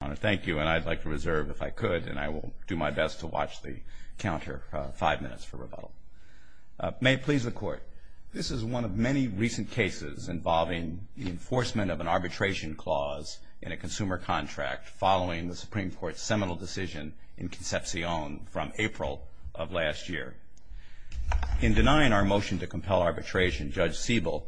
I want to thank you and I'd like to reserve if I could and I will do my best to watch the counter five minutes for rebuttal. May it please the Court, this is one of many recent cases involving the enforcement of an arbitration clause in a consumer contract following the Supreme Court's seminal decision in Concepcion from April of last year. In denying our motion to compel arbitration, Judge Siebel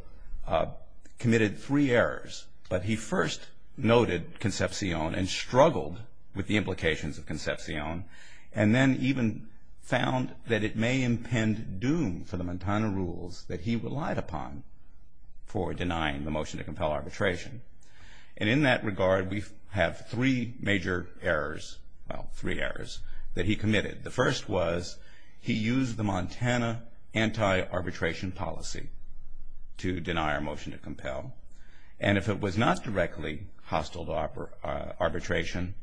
committed three errors, but he first noted Concepcion and struggled with the implications of Concepcion and then even found that it may impend doom for the Montana rules that he relied upon for denying the motion to compel arbitration. And in that regard we have three major errors, well three errors, that he committed. The first was he used the Montana anti-arbitration policy to deny our motion to compel and if it was not directly hostile to arbitration,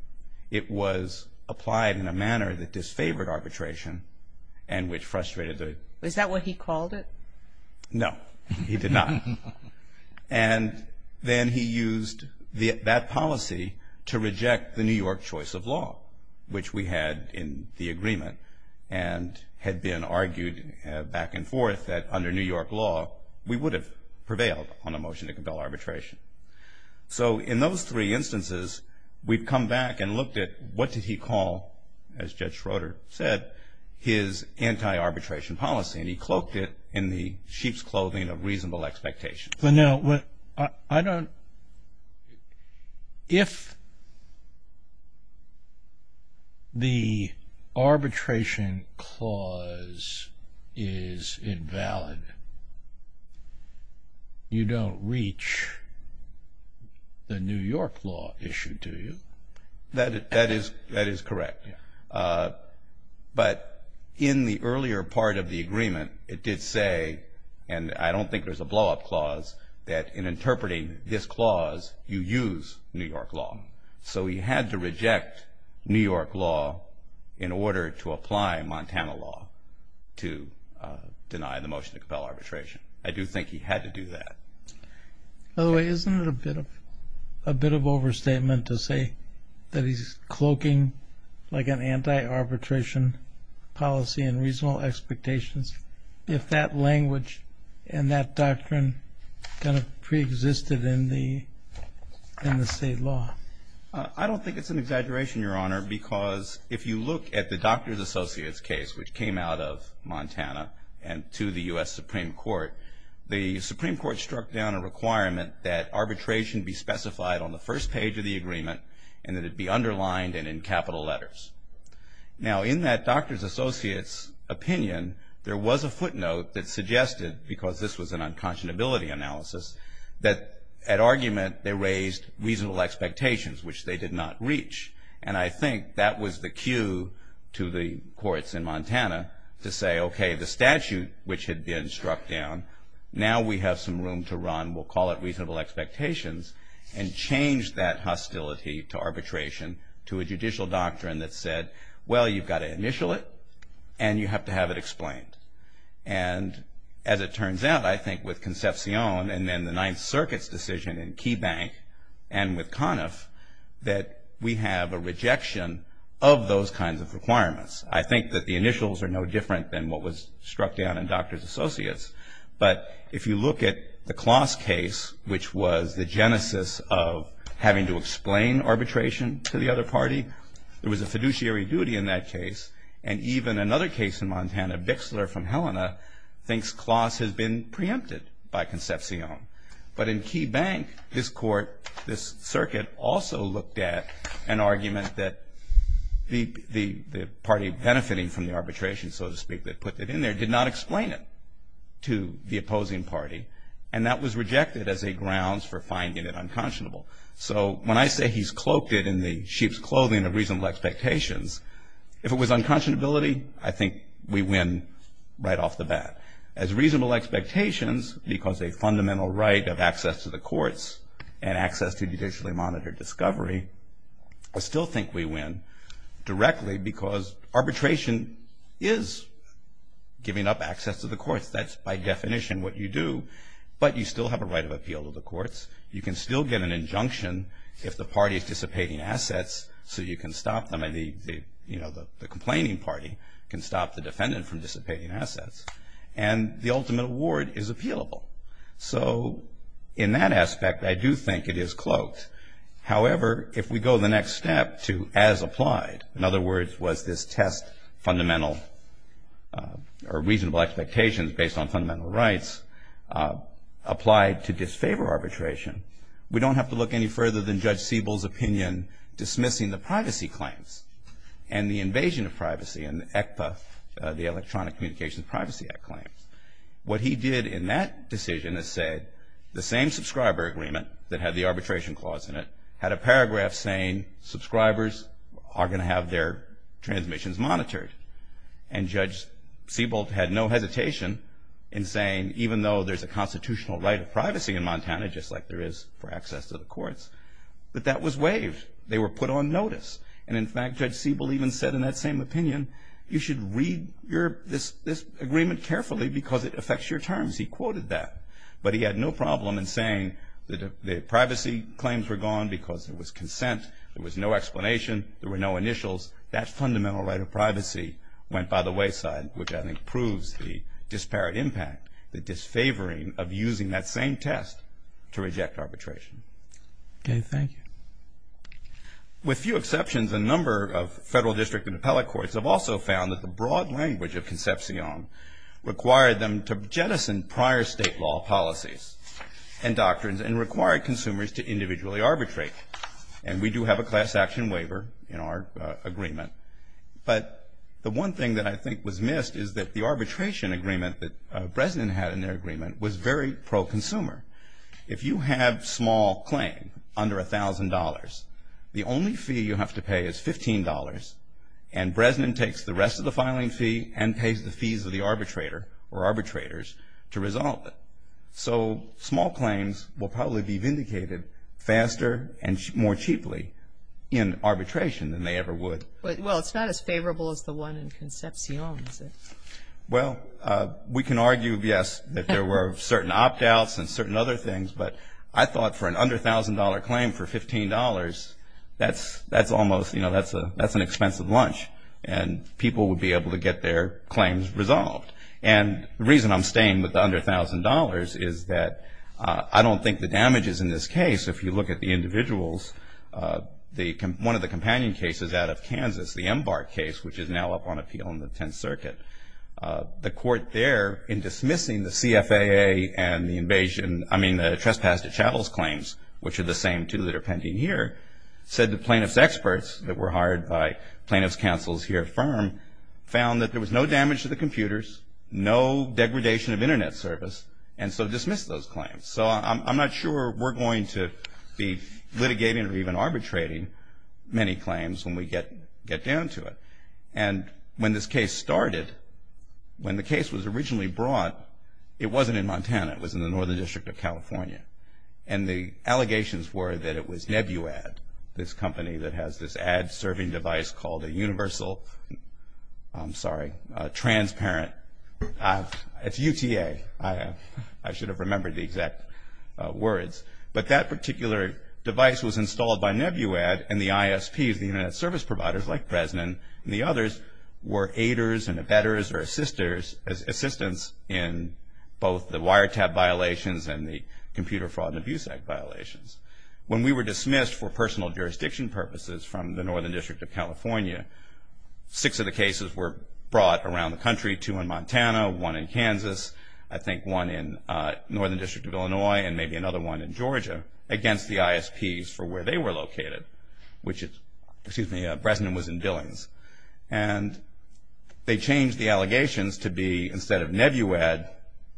it was applied in a manner that disfavored arbitration and which frustrated the... Is that what he called it? No, he did not. And then he used that policy to reject the New York choice of law, which we had in the agreement and had been argued back and forth that under New York law we would have prevailed on a motion to compel arbitration. So in those three instances we've come back and looked at what did he call, as Judge Schroeder said, his anti-arbitration policy and he cloaked it in the sheep's clothing of reasonable expectations. But now, if the arbitration clause is invalid, you don't reach the New York law issue, do you? That is correct, but in the earlier part of the agreement it did say, and I don't think there's a blowup clause, that in interpreting this clause you use New York law. So he had to reject New York law in order to apply Montana law to deny the motion to compel arbitration. I do think he had to do that. By the way, isn't it a bit of overstatement to say that he's cloaking like an anti-arbitration policy and reasonable expectations if that language and that doctrine kind of preexisted in the state law? I don't think it's an exaggeration, Your Honor, because if you look at the Doctors Associates case, which came out of Montana and to the U.S. Supreme Court, the Supreme Court struck down a requirement that arbitration be specified on the first page of the agreement and that it be underlined and in capital letters. Now, in that Doctors Associates opinion, there was a footnote that suggested, because this was an unconscionability analysis, that at argument they raised reasonable expectations, which they did not reach. And I think that was the cue to the courts in Montana to say, okay, the statute which had been struck down, now we have some room to run, we'll call it reasonable expectations, and change that hostility to arbitration to a judicial doctrine that said, well, you've got to initial it and you have to have it explained. And as it turns out, I think with Concepcion and then the Ninth Circuit's decision in Key Bank and with Conniff, that we have a rejection of those kinds of requirements. I think that the initials are no different than what was struck down in Doctors Associates. But if you look at the Kloss case, which was the genesis of having to explain arbitration to the other party, there was a fiduciary duty in that case. And even another case in Montana, Bixler from Helena, thinks Kloss has been preempted by Concepcion. But in Key Bank, this court, this circuit, also looked at an argument that the party benefiting from the arbitration, so to speak, that put it in there, did not explain it to the opposing party. And that was rejected as a grounds for finding it unconscionable. So when I say he's cloaked it in the sheep's clothing of reasonable expectations, if it was unconscionability, I think we win right off the bat. As reasonable expectations, because a fundamental right of access to the courts and access to judicially monitored discovery, I still think we win directly because arbitration is giving up access to the courts. That's by definition what you do. But you still have a right of appeal to the courts. You can still get an injunction if the party is dissipating assets so you can stop them. And the complaining party can stop the defendant from dissipating assets. And the ultimate award is appealable. So in that aspect, I do think it is cloaked. However, if we go the next step to as applied, in other words, was this test fundamental or reasonable expectations based on fundamental rights applied to disfavor arbitration, we don't have to look any further than Judge Siebel's opinion dismissing the privacy claims and the invasion of privacy and ECPA, the Electronic Communications Privacy Act claims. What he did in that decision is say the same subscriber agreement that had the arbitration clause in it had a paragraph saying subscribers are going to have their transmissions monitored. And Judge Siebel had no hesitation in saying, even though there's a constitutional right of privacy in Montana, just like there is for access to the courts, that that was waived. They were put on notice. And in fact, Judge Siebel even said in that same opinion, you should read this agreement carefully because it affects your terms. He quoted that. But he had no problem in saying that the privacy claims were gone because there was consent. There was no explanation. There were no initials. That fundamental right of privacy went by the wayside, which I think proves the disparate impact, the disfavoring of using that same test to reject arbitration. Okay. Thank you. With few exceptions, a number of federal district and appellate courts have also found that the broad language of Concepcion required them to jettison prior state law policies and doctrines and required consumers to individually arbitrate. And we do have a class action waiver in our agreement. But the one thing that I think was missed is that the arbitration agreement that Bresnan had in their agreement was very pro-consumer. If you have small claim under $1,000, the only fee you have to pay is $15, and Bresnan takes the rest of the filing fee and pays the fees of the arbitrator or arbitrators to resolve it. So small claims will probably be vindicated faster and more cheaply in arbitration than they ever would. Well, it's not as favorable as the one in Concepcion, is it? Well, we can argue, yes, that there were certain opt-outs and certain other things, but I thought for an under $1,000 claim for $15, that's almost, you know, that's an expensive lunch, and people would be able to get their claims resolved. And the reason I'm staying with the under $1,000 is that I don't think the damages in this case, if you look at the individuals, one of the companion cases out of Kansas, the Embark case, which is now up on appeal in the Tenth Circuit, the court there, in dismissing the CFAA and the invasion, I mean the trespass to chattels claims, which are the same two that are pending here, said the plaintiff's experts that were hired by plaintiff's counsel's here firm found that there was no damage to the computers, no degradation of Internet service, and so dismissed those claims. So I'm not sure we're going to be litigating or even arbitrating many claims when we get down to it. And when this case started, when the case was originally brought, it wasn't in Montana. It was in the Northern District of California. And the allegations were that it was Nebuad, this company that has this ad-serving device called a universal, I'm sorry, transparent. It's UTA. I should have remembered the exact words. But that particular device was installed by Nebuad, and the ISPs, the Internet service providers like Bresnan and the others, were aiders and abettors or assistants in both the wiretap violations and the Computer Fraud and Abuse Act violations. When we were dismissed for personal jurisdiction purposes from the Northern District of California, six of the cases were brought around the country, two in Montana, one in Kansas, I think one in Northern District of Illinois, and maybe another one in Georgia, against the ISPs for where they were located, which Bresnan was in Billings. And they changed the allegations to be instead of Nebuad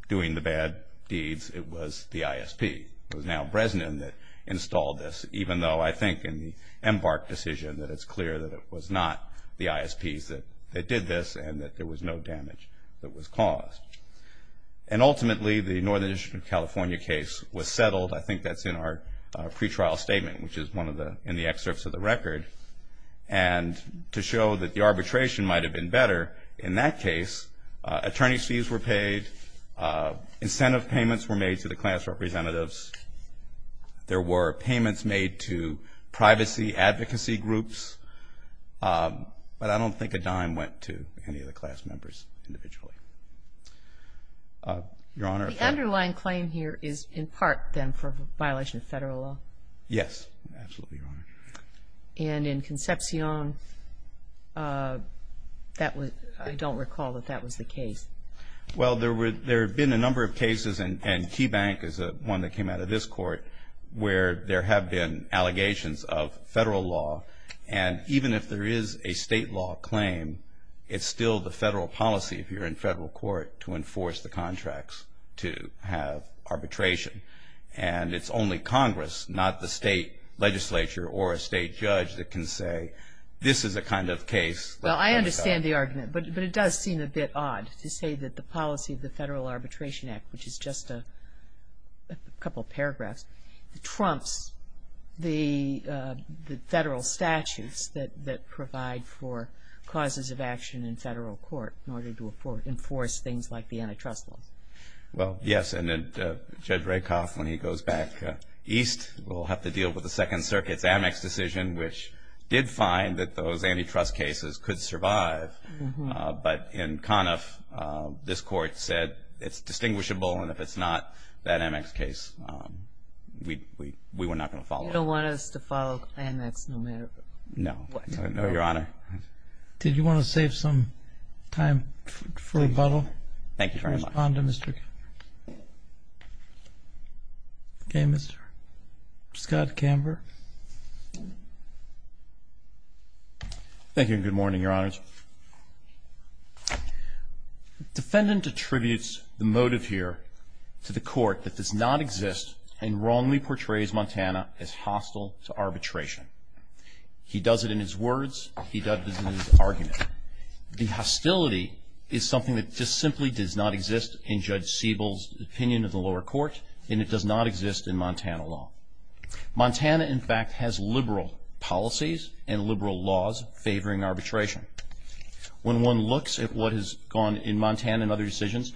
doing the bad deeds, it was the ISP. It was now Bresnan that installed this, even though I think in the Embark decision that it's clear that it was not the ISPs that did this and that there was no damage that was caused. And ultimately, the Northern District of California case was settled. I think that's in our pretrial statement, which is one of the excerpts of the record. And to show that the arbitration might have been better, in that case, attorney's fees were paid, incentive payments were made to the class representatives. There were payments made to privacy advocacy groups, but I don't think a dime went to any of the class members individually. Your Honor. The underlying claim here is in part, then, for violation of federal law. Yes, absolutely, Your Honor. And in Concepcion, I don't recall that that was the case. Well, there have been a number of cases, and Keybank is one that came out of this court, where there have been allegations of federal law. And even if there is a state law claim, it's still the federal policy, if you're in federal court, to enforce the contracts to have arbitration. And it's only Congress, not the state legislature or a state judge, that can say this is a kind of case. Well, I understand the argument, but it does seem a bit odd to say that the policy of the Federal Arbitration Act, which is just a couple of paragraphs, trumps the federal statutes that provide for causes of action in federal court in order to enforce things like the antitrust laws. Well, yes, and Judge Rakoff, when he goes back east, will have to deal with the Second Circuit's Amex decision, which did find that those antitrust cases could survive. But in Conniff, this court said it's distinguishable, and if it's not that Amex case, we were not going to follow it. You don't want us to follow Amex no matter what? No, Your Honor. Did you want to save some time for rebuttal? Thank you very much. Can I respond to Mr. Camber? Okay, Mr. Scott Camber. Thank you, and good morning, Your Honors. The defendant attributes the motive here to the court that does not exist and wrongly portrays Montana as hostile to arbitration. He does it in his words. He does it in his argument. The hostility is something that just simply does not exist in Judge Siebel's opinion of the lower court, and it does not exist in Montana law. Montana, in fact, has liberal policies and liberal laws favoring arbitration. When one looks at what has gone in Montana and other decisions,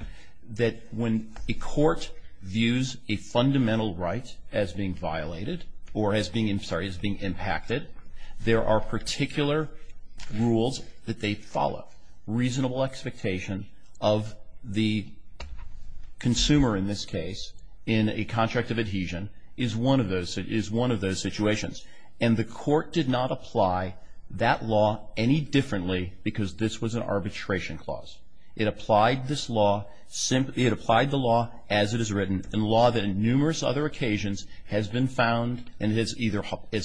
that when a court views a fundamental right as being violated or as being impacted, there are particular rules that they follow. Reasonable expectation of the consumer in this case in a contract of adhesion is one of those situations, and the court did not apply that law any differently because this was an arbitration clause. It applied the law as it is written, a law that on numerous other occasions has been found and has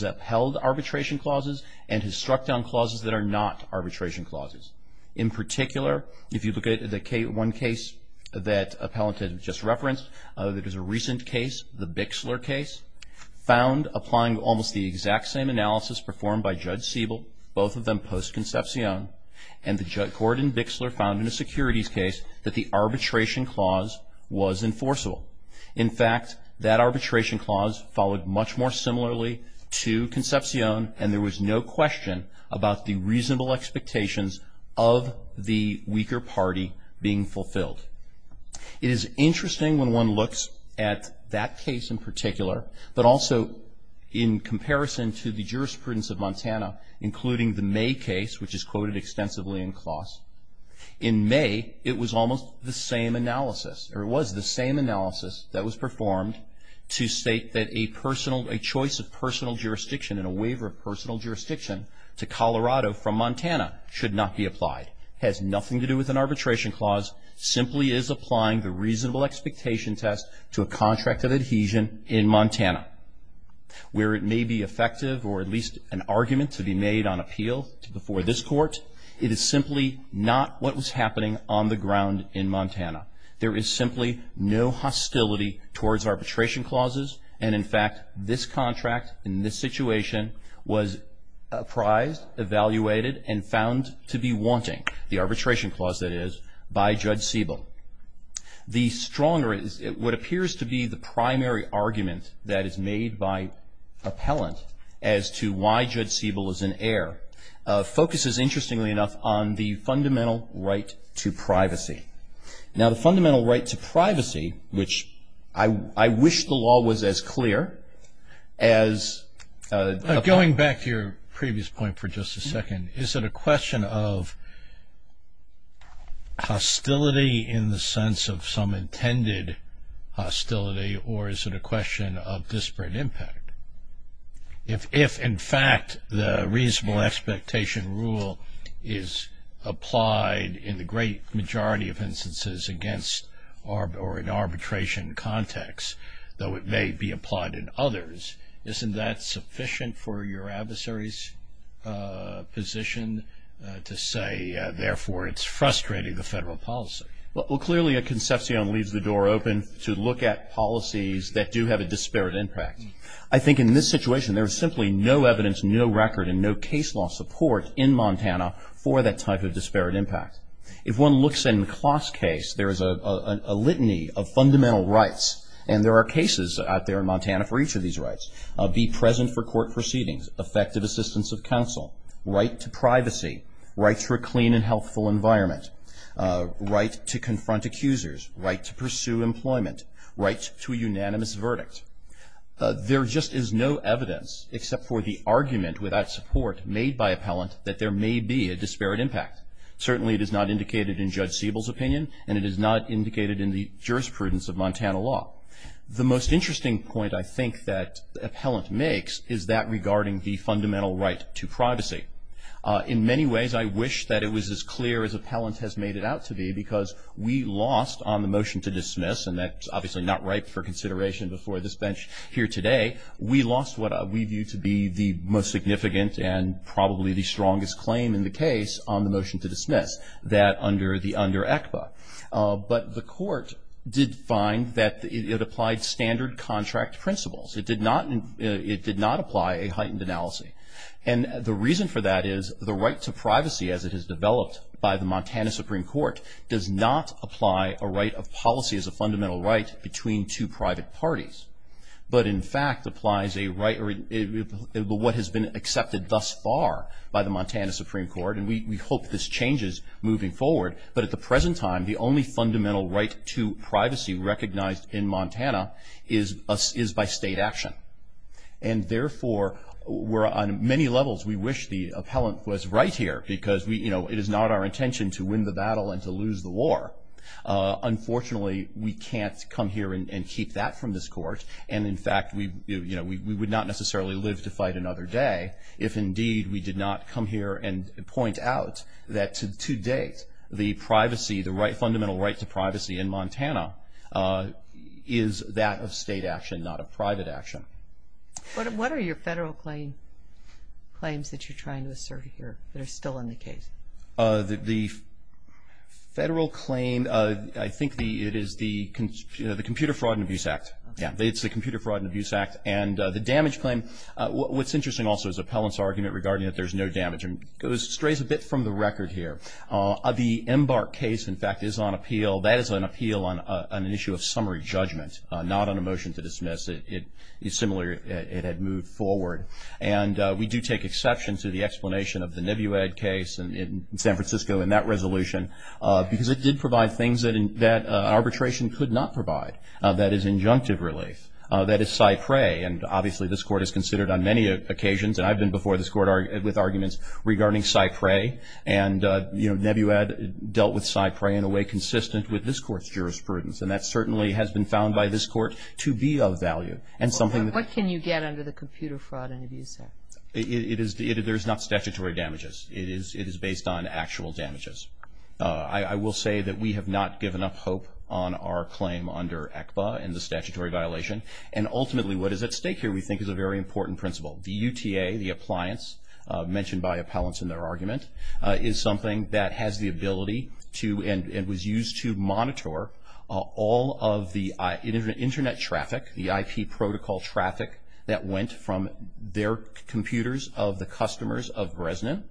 upheld arbitration clauses and has struck down clauses that are not arbitration clauses. In particular, if you look at one case that Appellant has just referenced, that is a recent case, the Bixler case, found applying almost the exact same analysis performed by Judge Siebel, both of them post-concepcion, and the court in Bixler found in a securities case that the arbitration clause was enforceable. In fact, that arbitration clause followed much more similarly to concepcion and there was no question about the reasonable expectations of the weaker party being fulfilled. It is interesting when one looks at that case in particular, but also in comparison to the jurisprudence of Montana, including the May case, which is quoted extensively in clause. In May, it was almost the same analysis, or it was the same analysis that was performed to state that a choice of personal jurisdiction and a waiver of personal jurisdiction to Colorado from Montana should not be applied. It has nothing to do with an arbitration clause. It simply is applying the reasonable expectation test to a contract of adhesion in Montana. Where it may be effective, or at least an argument to be made on appeal before this court, it is simply not what was happening on the ground in Montana. There is simply no hostility towards arbitration clauses and, in fact, this contract in this situation was apprised, evaluated, and found to be wanting, the arbitration clause that is, by Judge Siebel. The stronger, what appears to be the primary argument that is made by appellant as to why Judge Siebel is in error focuses, interestingly enough, on the fundamental right to privacy. Now, the fundamental right to privacy, which I wish the law was as clear as... Going back to your previous point for just a second, is it a question of hostility in the sense of some intended hostility, or is it a question of disparate impact? If, in fact, the reasonable expectation rule is applied in the great majority of instances against or in arbitration context, though it may be applied in others, isn't that sufficient for your adversary's position to say, therefore, it's frustrating the federal policy? Well, clearly a concepcion leaves the door open to look at policies that do have a disparate impact. I think in this situation there is simply no evidence, no record, and no case law support in Montana for that type of disparate impact. If one looks in Klaus' case, there is a litany of fundamental rights, and there are cases out there in Montana for each of these rights. Be present for court proceedings, effective assistance of counsel, right to privacy, right to a clean and healthful environment, right to confront accusers, right to pursue employment, right to a unanimous verdict. There just is no evidence, except for the argument without support, made by appellant, that there may be a disparate impact. Certainly it is not indicated in Judge Siebel's opinion, and it is not indicated in the jurisprudence of Montana law. The most interesting point I think that appellant makes is that regarding the fundamental right to privacy. In many ways I wish that it was as clear as appellant has made it out to be, because we lost on the motion to dismiss, and that's obviously not right for consideration before this bench here today, we lost what we view to be the most significant and probably the strongest claim in the case on the motion to dismiss, that under the under ECPA. But the court did find that it applied standard contract principles. It did not apply a heightened analysis. And the reason for that is the right to privacy, as it has developed by the Montana Supreme Court, does not apply a right of policy as a fundamental right between two private parties. But in fact applies a right, what has been accepted thus far by the Montana Supreme Court, and we hope this changes moving forward, but at the present time the only fundamental right to privacy recognized in Montana is by state action. And therefore, on many levels we wish the appellant was right here, because it is not our intention to win the battle and to lose the war. Unfortunately, we can't come here and keep that from this court, and in fact we would not necessarily live to fight another day if indeed we did not come here and point out that to date, the fundamental right to privacy in Montana is that of state action, not of private action. What are your federal claims that you're trying to assert here that are still in the case? The federal claim, I think it is the Computer Fraud and Abuse Act. Yeah. It's the Computer Fraud and Abuse Act. And the damage claim, what's interesting also is the appellant's argument regarding that there's no damage, and it strays a bit from the record here. The Embark case, in fact, is on appeal. That is on appeal on an issue of summary judgment, not on a motion to dismiss. It is similar. It had moved forward. And we do take exception to the explanation of the Nebuad case in San Francisco in that resolution because it did provide things that arbitration could not provide. That is injunctive relief. That is cypre. And obviously this court has considered on many occasions, and I've been before this court with arguments regarding cypre. And, you know, Nebuad dealt with cypre in a way consistent with this court's jurisprudence, and that certainly has been found by this court to be of value. What can you get under the Computer Fraud and Abuse Act? There's not statutory damages. It is based on actual damages. I will say that we have not given up hope on our claim under ECBA and the statutory violation. And ultimately what is at stake here we think is a very important principle. The UTA, the appliance mentioned by appellants in their argument, is something that has the ability to and was used to monitor all of the Internet traffic, the IP protocol traffic that went from their computers of the customers of Resnick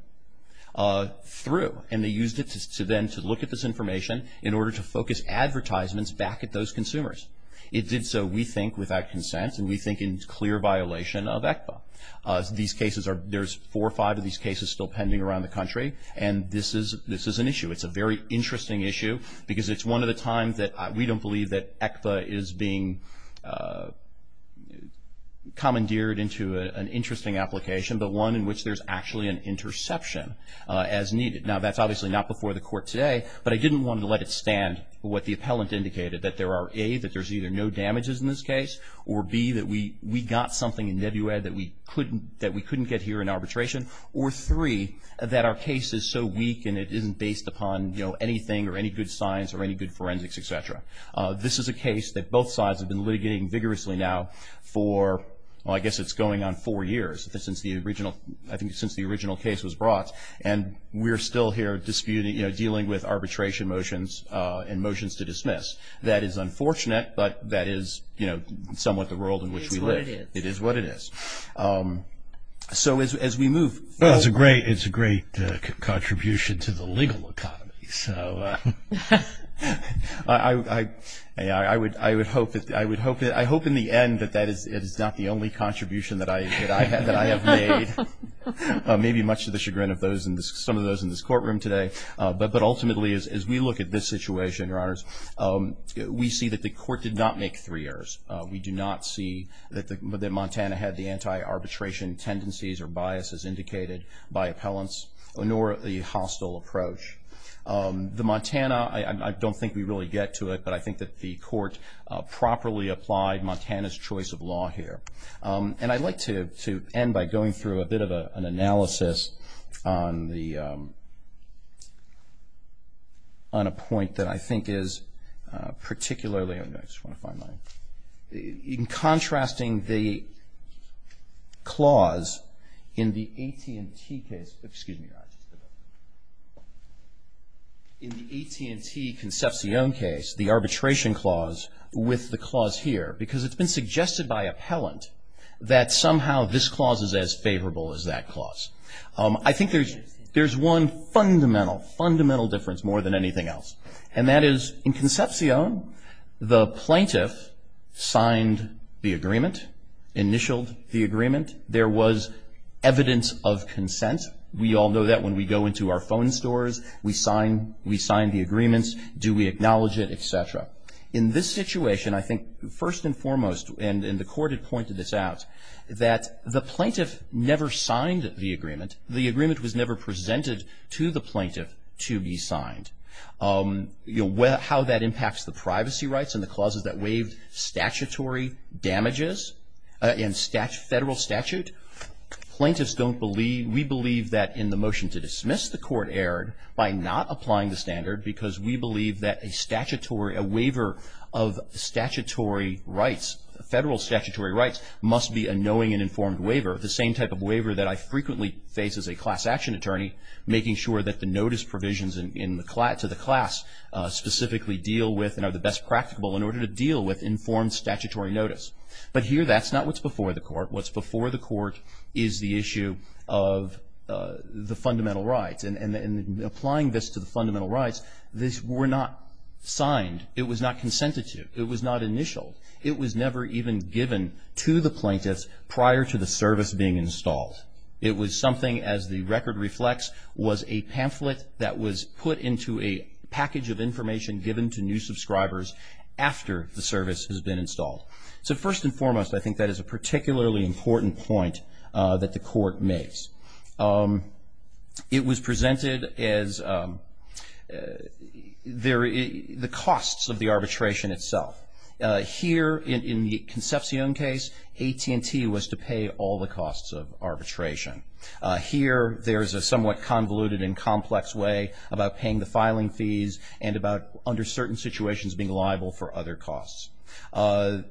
through. And they used it then to look at this information in order to focus advertisements back at those consumers. It did so, we think, without consent, and we think in clear violation of ECBA. These cases are, there's four or five of these cases still pending around the country, and this is an issue. It's a very interesting issue because it's one of the times that we don't believe that we've commandeered into an interesting application, but one in which there's actually an interception as needed. Now that's obviously not before the court today, but I didn't want to let it stand what the appellant indicated, that there are A, that there's either no damages in this case, or B, that we got something in WED that we couldn't get here in arbitration, or 3, that our case is so weak and it isn't based upon, you know, anything or any good science or any good forensics, et cetera. This is a case that both sides have been litigating vigorously now for, well, I guess it's going on four years since the original, I think since the original case was brought, and we're still here disputing, you know, dealing with arbitration motions and motions to dismiss. That is unfortunate, but that is, you know, somewhat the world in which we live. It is what it is. It is what it is. So as we move forward. Well, it's a great, it's a great contribution to the legal economy. So I would hope that, I hope in the end that that is not the only contribution that I have made. Maybe much to the chagrin of some of those in this courtroom today, but ultimately as we look at this situation, Your Honors, we see that the court did not make three errors. We do not see that Montana had the anti-arbitration tendencies or biases indicated by appellants, nor the hostile approach. The Montana, I don't think we really get to it, but I think that the court properly applied Montana's choice of law here. And I'd like to end by going through a bit of an analysis on the, on a point that I think is particularly, in contrasting the clause in the AT&T case, excuse me, in the AT&T Concepcion case, the arbitration clause with the clause here, because it's been suggested by appellant that somehow this clause is as favorable as that clause. I think there's, there's one fundamental, fundamental difference more than anything else. And that is in Concepcion, the plaintiff signed the agreement, initialed the agreement. There was evidence of consent. We all know that when we go into our phone stores, we sign, we sign the agreements. Do we acknowledge it, et cetera. In this situation, I think first and foremost, and the court had pointed this out, that the plaintiff never signed the agreement. The agreement was never presented to the plaintiff to be signed. You know, how that impacts the privacy rights and the clauses that waived statutory damages and federal statute, plaintiffs don't believe, we believe that in the motion to dismiss, the court erred by not applying the standard because we believe that a statutory, a waiver of statutory rights, federal statutory rights must be a knowing and informed waiver. The same type of waiver that I frequently face as a class action attorney, making sure that the notice provisions to the class specifically deal with and are the best practicable in order to deal with informed statutory notice. But here, that's not what's before the court. What's before the court is the issue of the fundamental rights. And applying this to the fundamental rights, this were not signed. It was not consented to. It was not initial. It was never even given to the plaintiffs prior to the service being installed. It was something, as the record reflects, was a pamphlet that was put into a package of information given to new subscribers after the service has been installed. So first and foremost, I think that is a particularly important point that the court makes. It was presented as the costs of the arbitration itself. Here, in the Concepcion case, AT&T was to pay all the costs of arbitration. Here, there's a somewhat convoluted and complex way about paying the filing fees and about under certain situations being liable for other costs.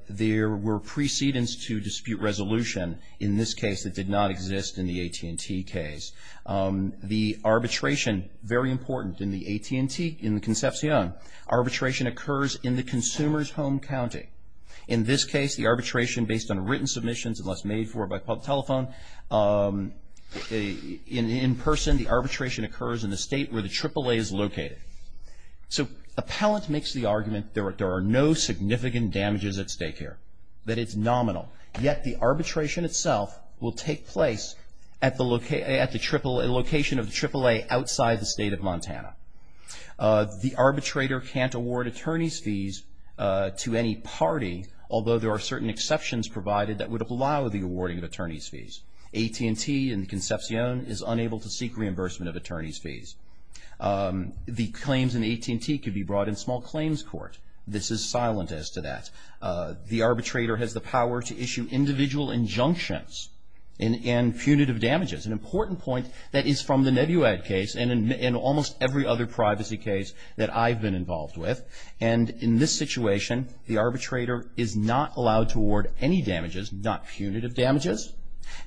There were precedents to dispute resolution in this case that did not exist in the AT&T case. The arbitration, very important in the AT&T, in the Concepcion, arbitration occurs in the consumer's home county. In this case, the arbitration, based on written submissions, unless made for by public telephone, in person, the arbitration occurs in the state where the AAA is located. So Appellant makes the argument there are no significant damages at stake here, that it's nominal. Yet the arbitration itself will take place at the location of the AAA outside the state of Montana. The arbitrator can't award attorney's fees to any party, although there are certain exceptions provided that would allow the awarding of attorney's fees. AT&T in the Concepcion is unable to seek reimbursement of attorney's fees. The claims in AT&T could be brought in small claims court. This is silent as to that. The arbitrator has the power to issue individual injunctions and punitive damages. An important point that is from the Nebuad case, and in almost every other privacy case that I've been involved with, and in this situation the arbitrator is not allowed to award any damages, not punitive damages,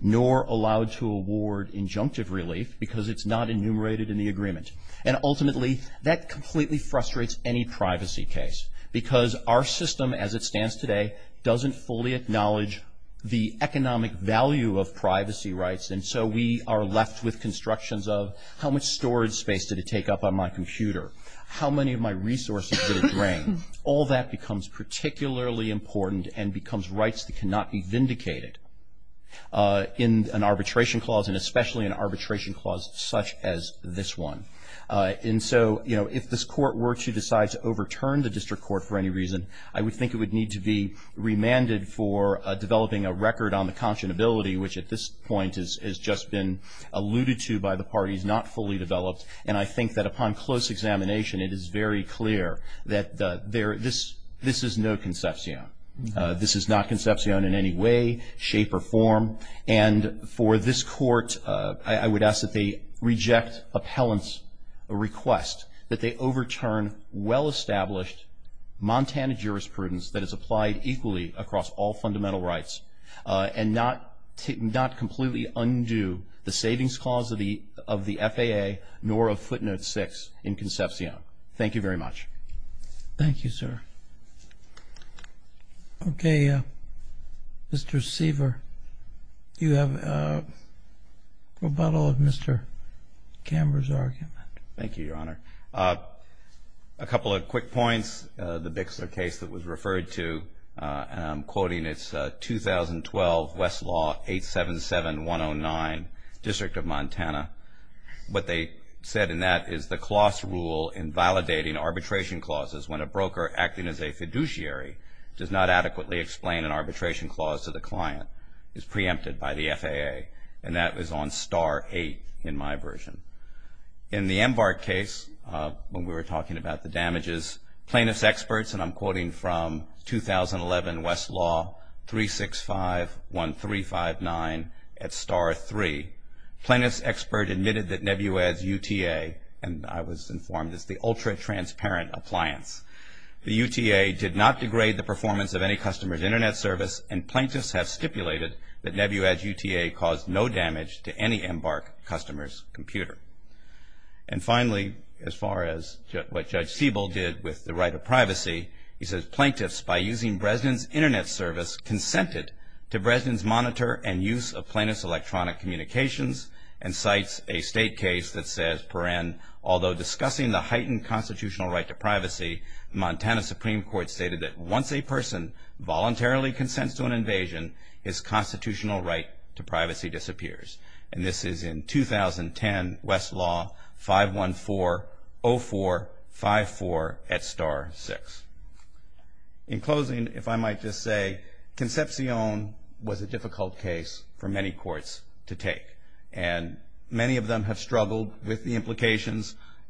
nor allowed to award injunctive relief because it's not enumerated in the agreement. And ultimately that completely frustrates any privacy case because our system as it stands today doesn't fully acknowledge the economic value of privacy rights and so we are left with constructions of how much storage space did it take up on my computer? How many of my resources did it drain? All that becomes particularly important and becomes rights that cannot be vindicated in an arbitration clause and especially an arbitration clause such as this one. And so, you know, if this court were to decide to overturn the district court for any reason, I would think it would need to be remanded for developing a record on the Concepcion ability, which at this point has just been alluded to by the parties, not fully developed. And I think that upon close examination it is very clear that this is no Concepcion. This is not Concepcion in any way, shape, or form. And for this court, I would ask that they reject appellant's request that they overturn well-established Montana jurisprudence that is applied equally across all fundamental rights and not completely undo the savings clause of the FAA nor of footnote 6 in Concepcion. Thank you very much. Thank you, sir. Okay, Mr. Seaver, you have a rebuttal of Mr. Camber's argument. Thank you, Your Honor. A couple of quick points. The Bixler case that was referred to, and I'm quoting, it's 2012 Westlaw 877-109, District of Montana. What they said in that is the clause rule in validating arbitration clauses when a broker acting as a fiduciary does not adequately explain an arbitration clause to the client is preempted by the FAA, and that was on star 8 in my version. In the MBARC case, when we were talking about the damages, plaintiff's experts, and I'm quoting from 2011 Westlaw 365-1359 at star 3, plaintiff's expert admitted that Nebuledge UTA, and I was informed it's the ultra-transparent appliance. The UTA did not degrade the performance of any customer's Internet service, and plaintiffs have stipulated that Nebuledge UTA caused no damage to any MBARC customer's computer. And finally, as far as what Judge Siebel did with the right of privacy, he says plaintiffs, by using Bresnan's Internet service, consented to Bresnan's monitor and use of plaintiff's electronic communications, and cites a state case that says, per n, although discussing the heightened constitutional right to privacy, Montana Supreme Court stated that once a person voluntarily consents to an invasion, his constitutional right to privacy disappears. And this is in 2010 Westlaw 514-0454 at star 6. In closing, if I might just say, Concepcion was a difficult case for many courts to take,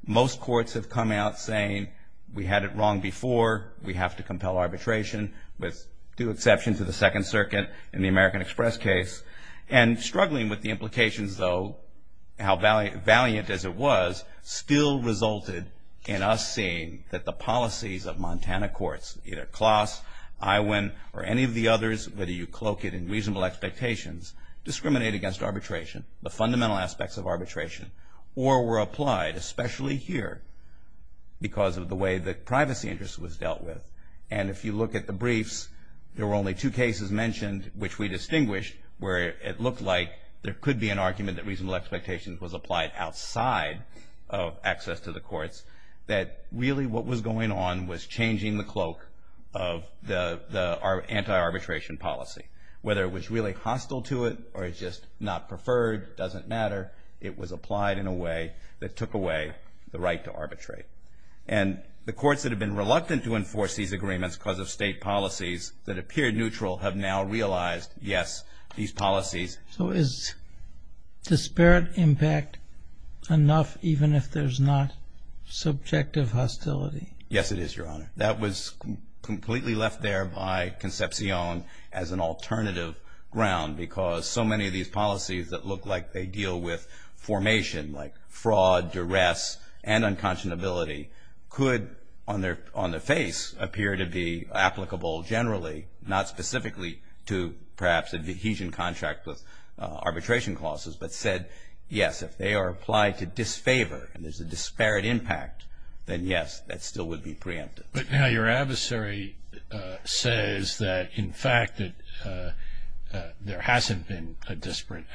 most courts have come out saying we had it wrong before, we have to compel arbitration, with two exceptions to the Second Circuit in the American Express case. And struggling with the implications, though, how valiant as it was, still resulted in us seeing that the policies of Montana courts, either Kloss, Iwin, or any of the others, whether you cloak it in reasonable expectations, discriminate against arbitration, the fundamental aspects of arbitration, or were applied, especially here, because of the way the privacy interest was dealt with. And if you look at the briefs, there were only two cases mentioned which we distinguished, where it looked like there could be an argument that reasonable expectations was applied outside of access to the courts, that really what was going on was changing the cloak of the anti-arbitration policy. Whether it was really hostile to it, or it's just not preferred, doesn't matter, it was applied in a way that took away the right to arbitrate. And the courts that have been reluctant to enforce these agreements because of state policies that appeared neutral have now realized, yes, these policies... So is disparate impact enough, even if there's not subjective hostility? Yes, it is, Your Honor. That was completely left there by Concepcion as an alternative ground, because so many of these policies that look like they deal with formation, like fraud, duress, and unconscionability could, on the face, appear to be applicable generally, not specifically to perhaps adhesion contract with arbitration clauses, but said, yes, if they are applied to disfavor and there's a disparate impact, then yes, that still would be preemptive. But now your adversary says that, in fact, that there hasn't been a disparate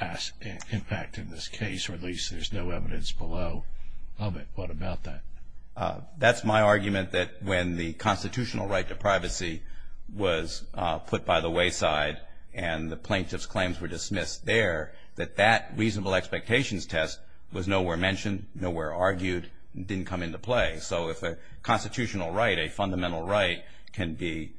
impact in this case, or at least there's no evidence below of it. What about that? That's my argument that when the constitutional right to privacy was put by the wayside and the plaintiff's claims were dismissed there, that that reasonable expectations test was nowhere mentioned, nowhere argued, didn't come into play. So if a constitutional right, a fundamental right, can be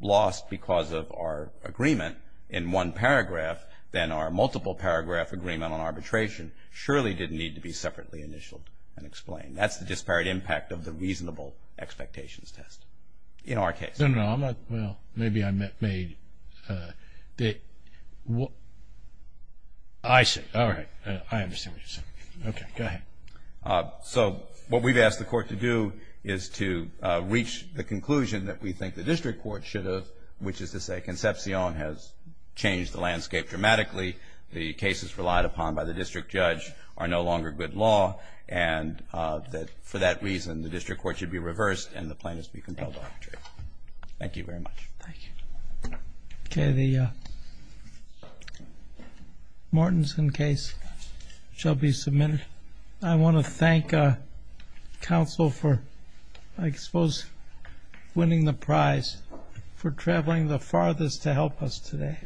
lost because of our agreement in one paragraph, then our multiple paragraph agreement on arbitration surely didn't need to be separately initialed and explained. That's the disparate impact of the reasonable expectations test in our case. No, no, no, I'm not, well, maybe I made, I see, all right, I understand what you're saying. Okay, go ahead. So what we've asked the court to do is to reach the conclusion that we think the district court should have, which is to say Concepcion has changed the landscape dramatically, the cases relied upon by the district judge are no longer good law, and that for that reason the district court should be reversed and the plaintiffs be compelled to arbitrate. Thank you very much. Thank you. Okay, the Mortensen case shall be submitted. I want to thank counsel for, I suppose, winning the prize for traveling the farthest to help us today,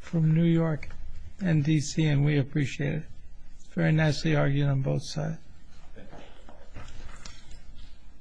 from New York and D.C., and we appreciate it. Very nicely argued on both sides.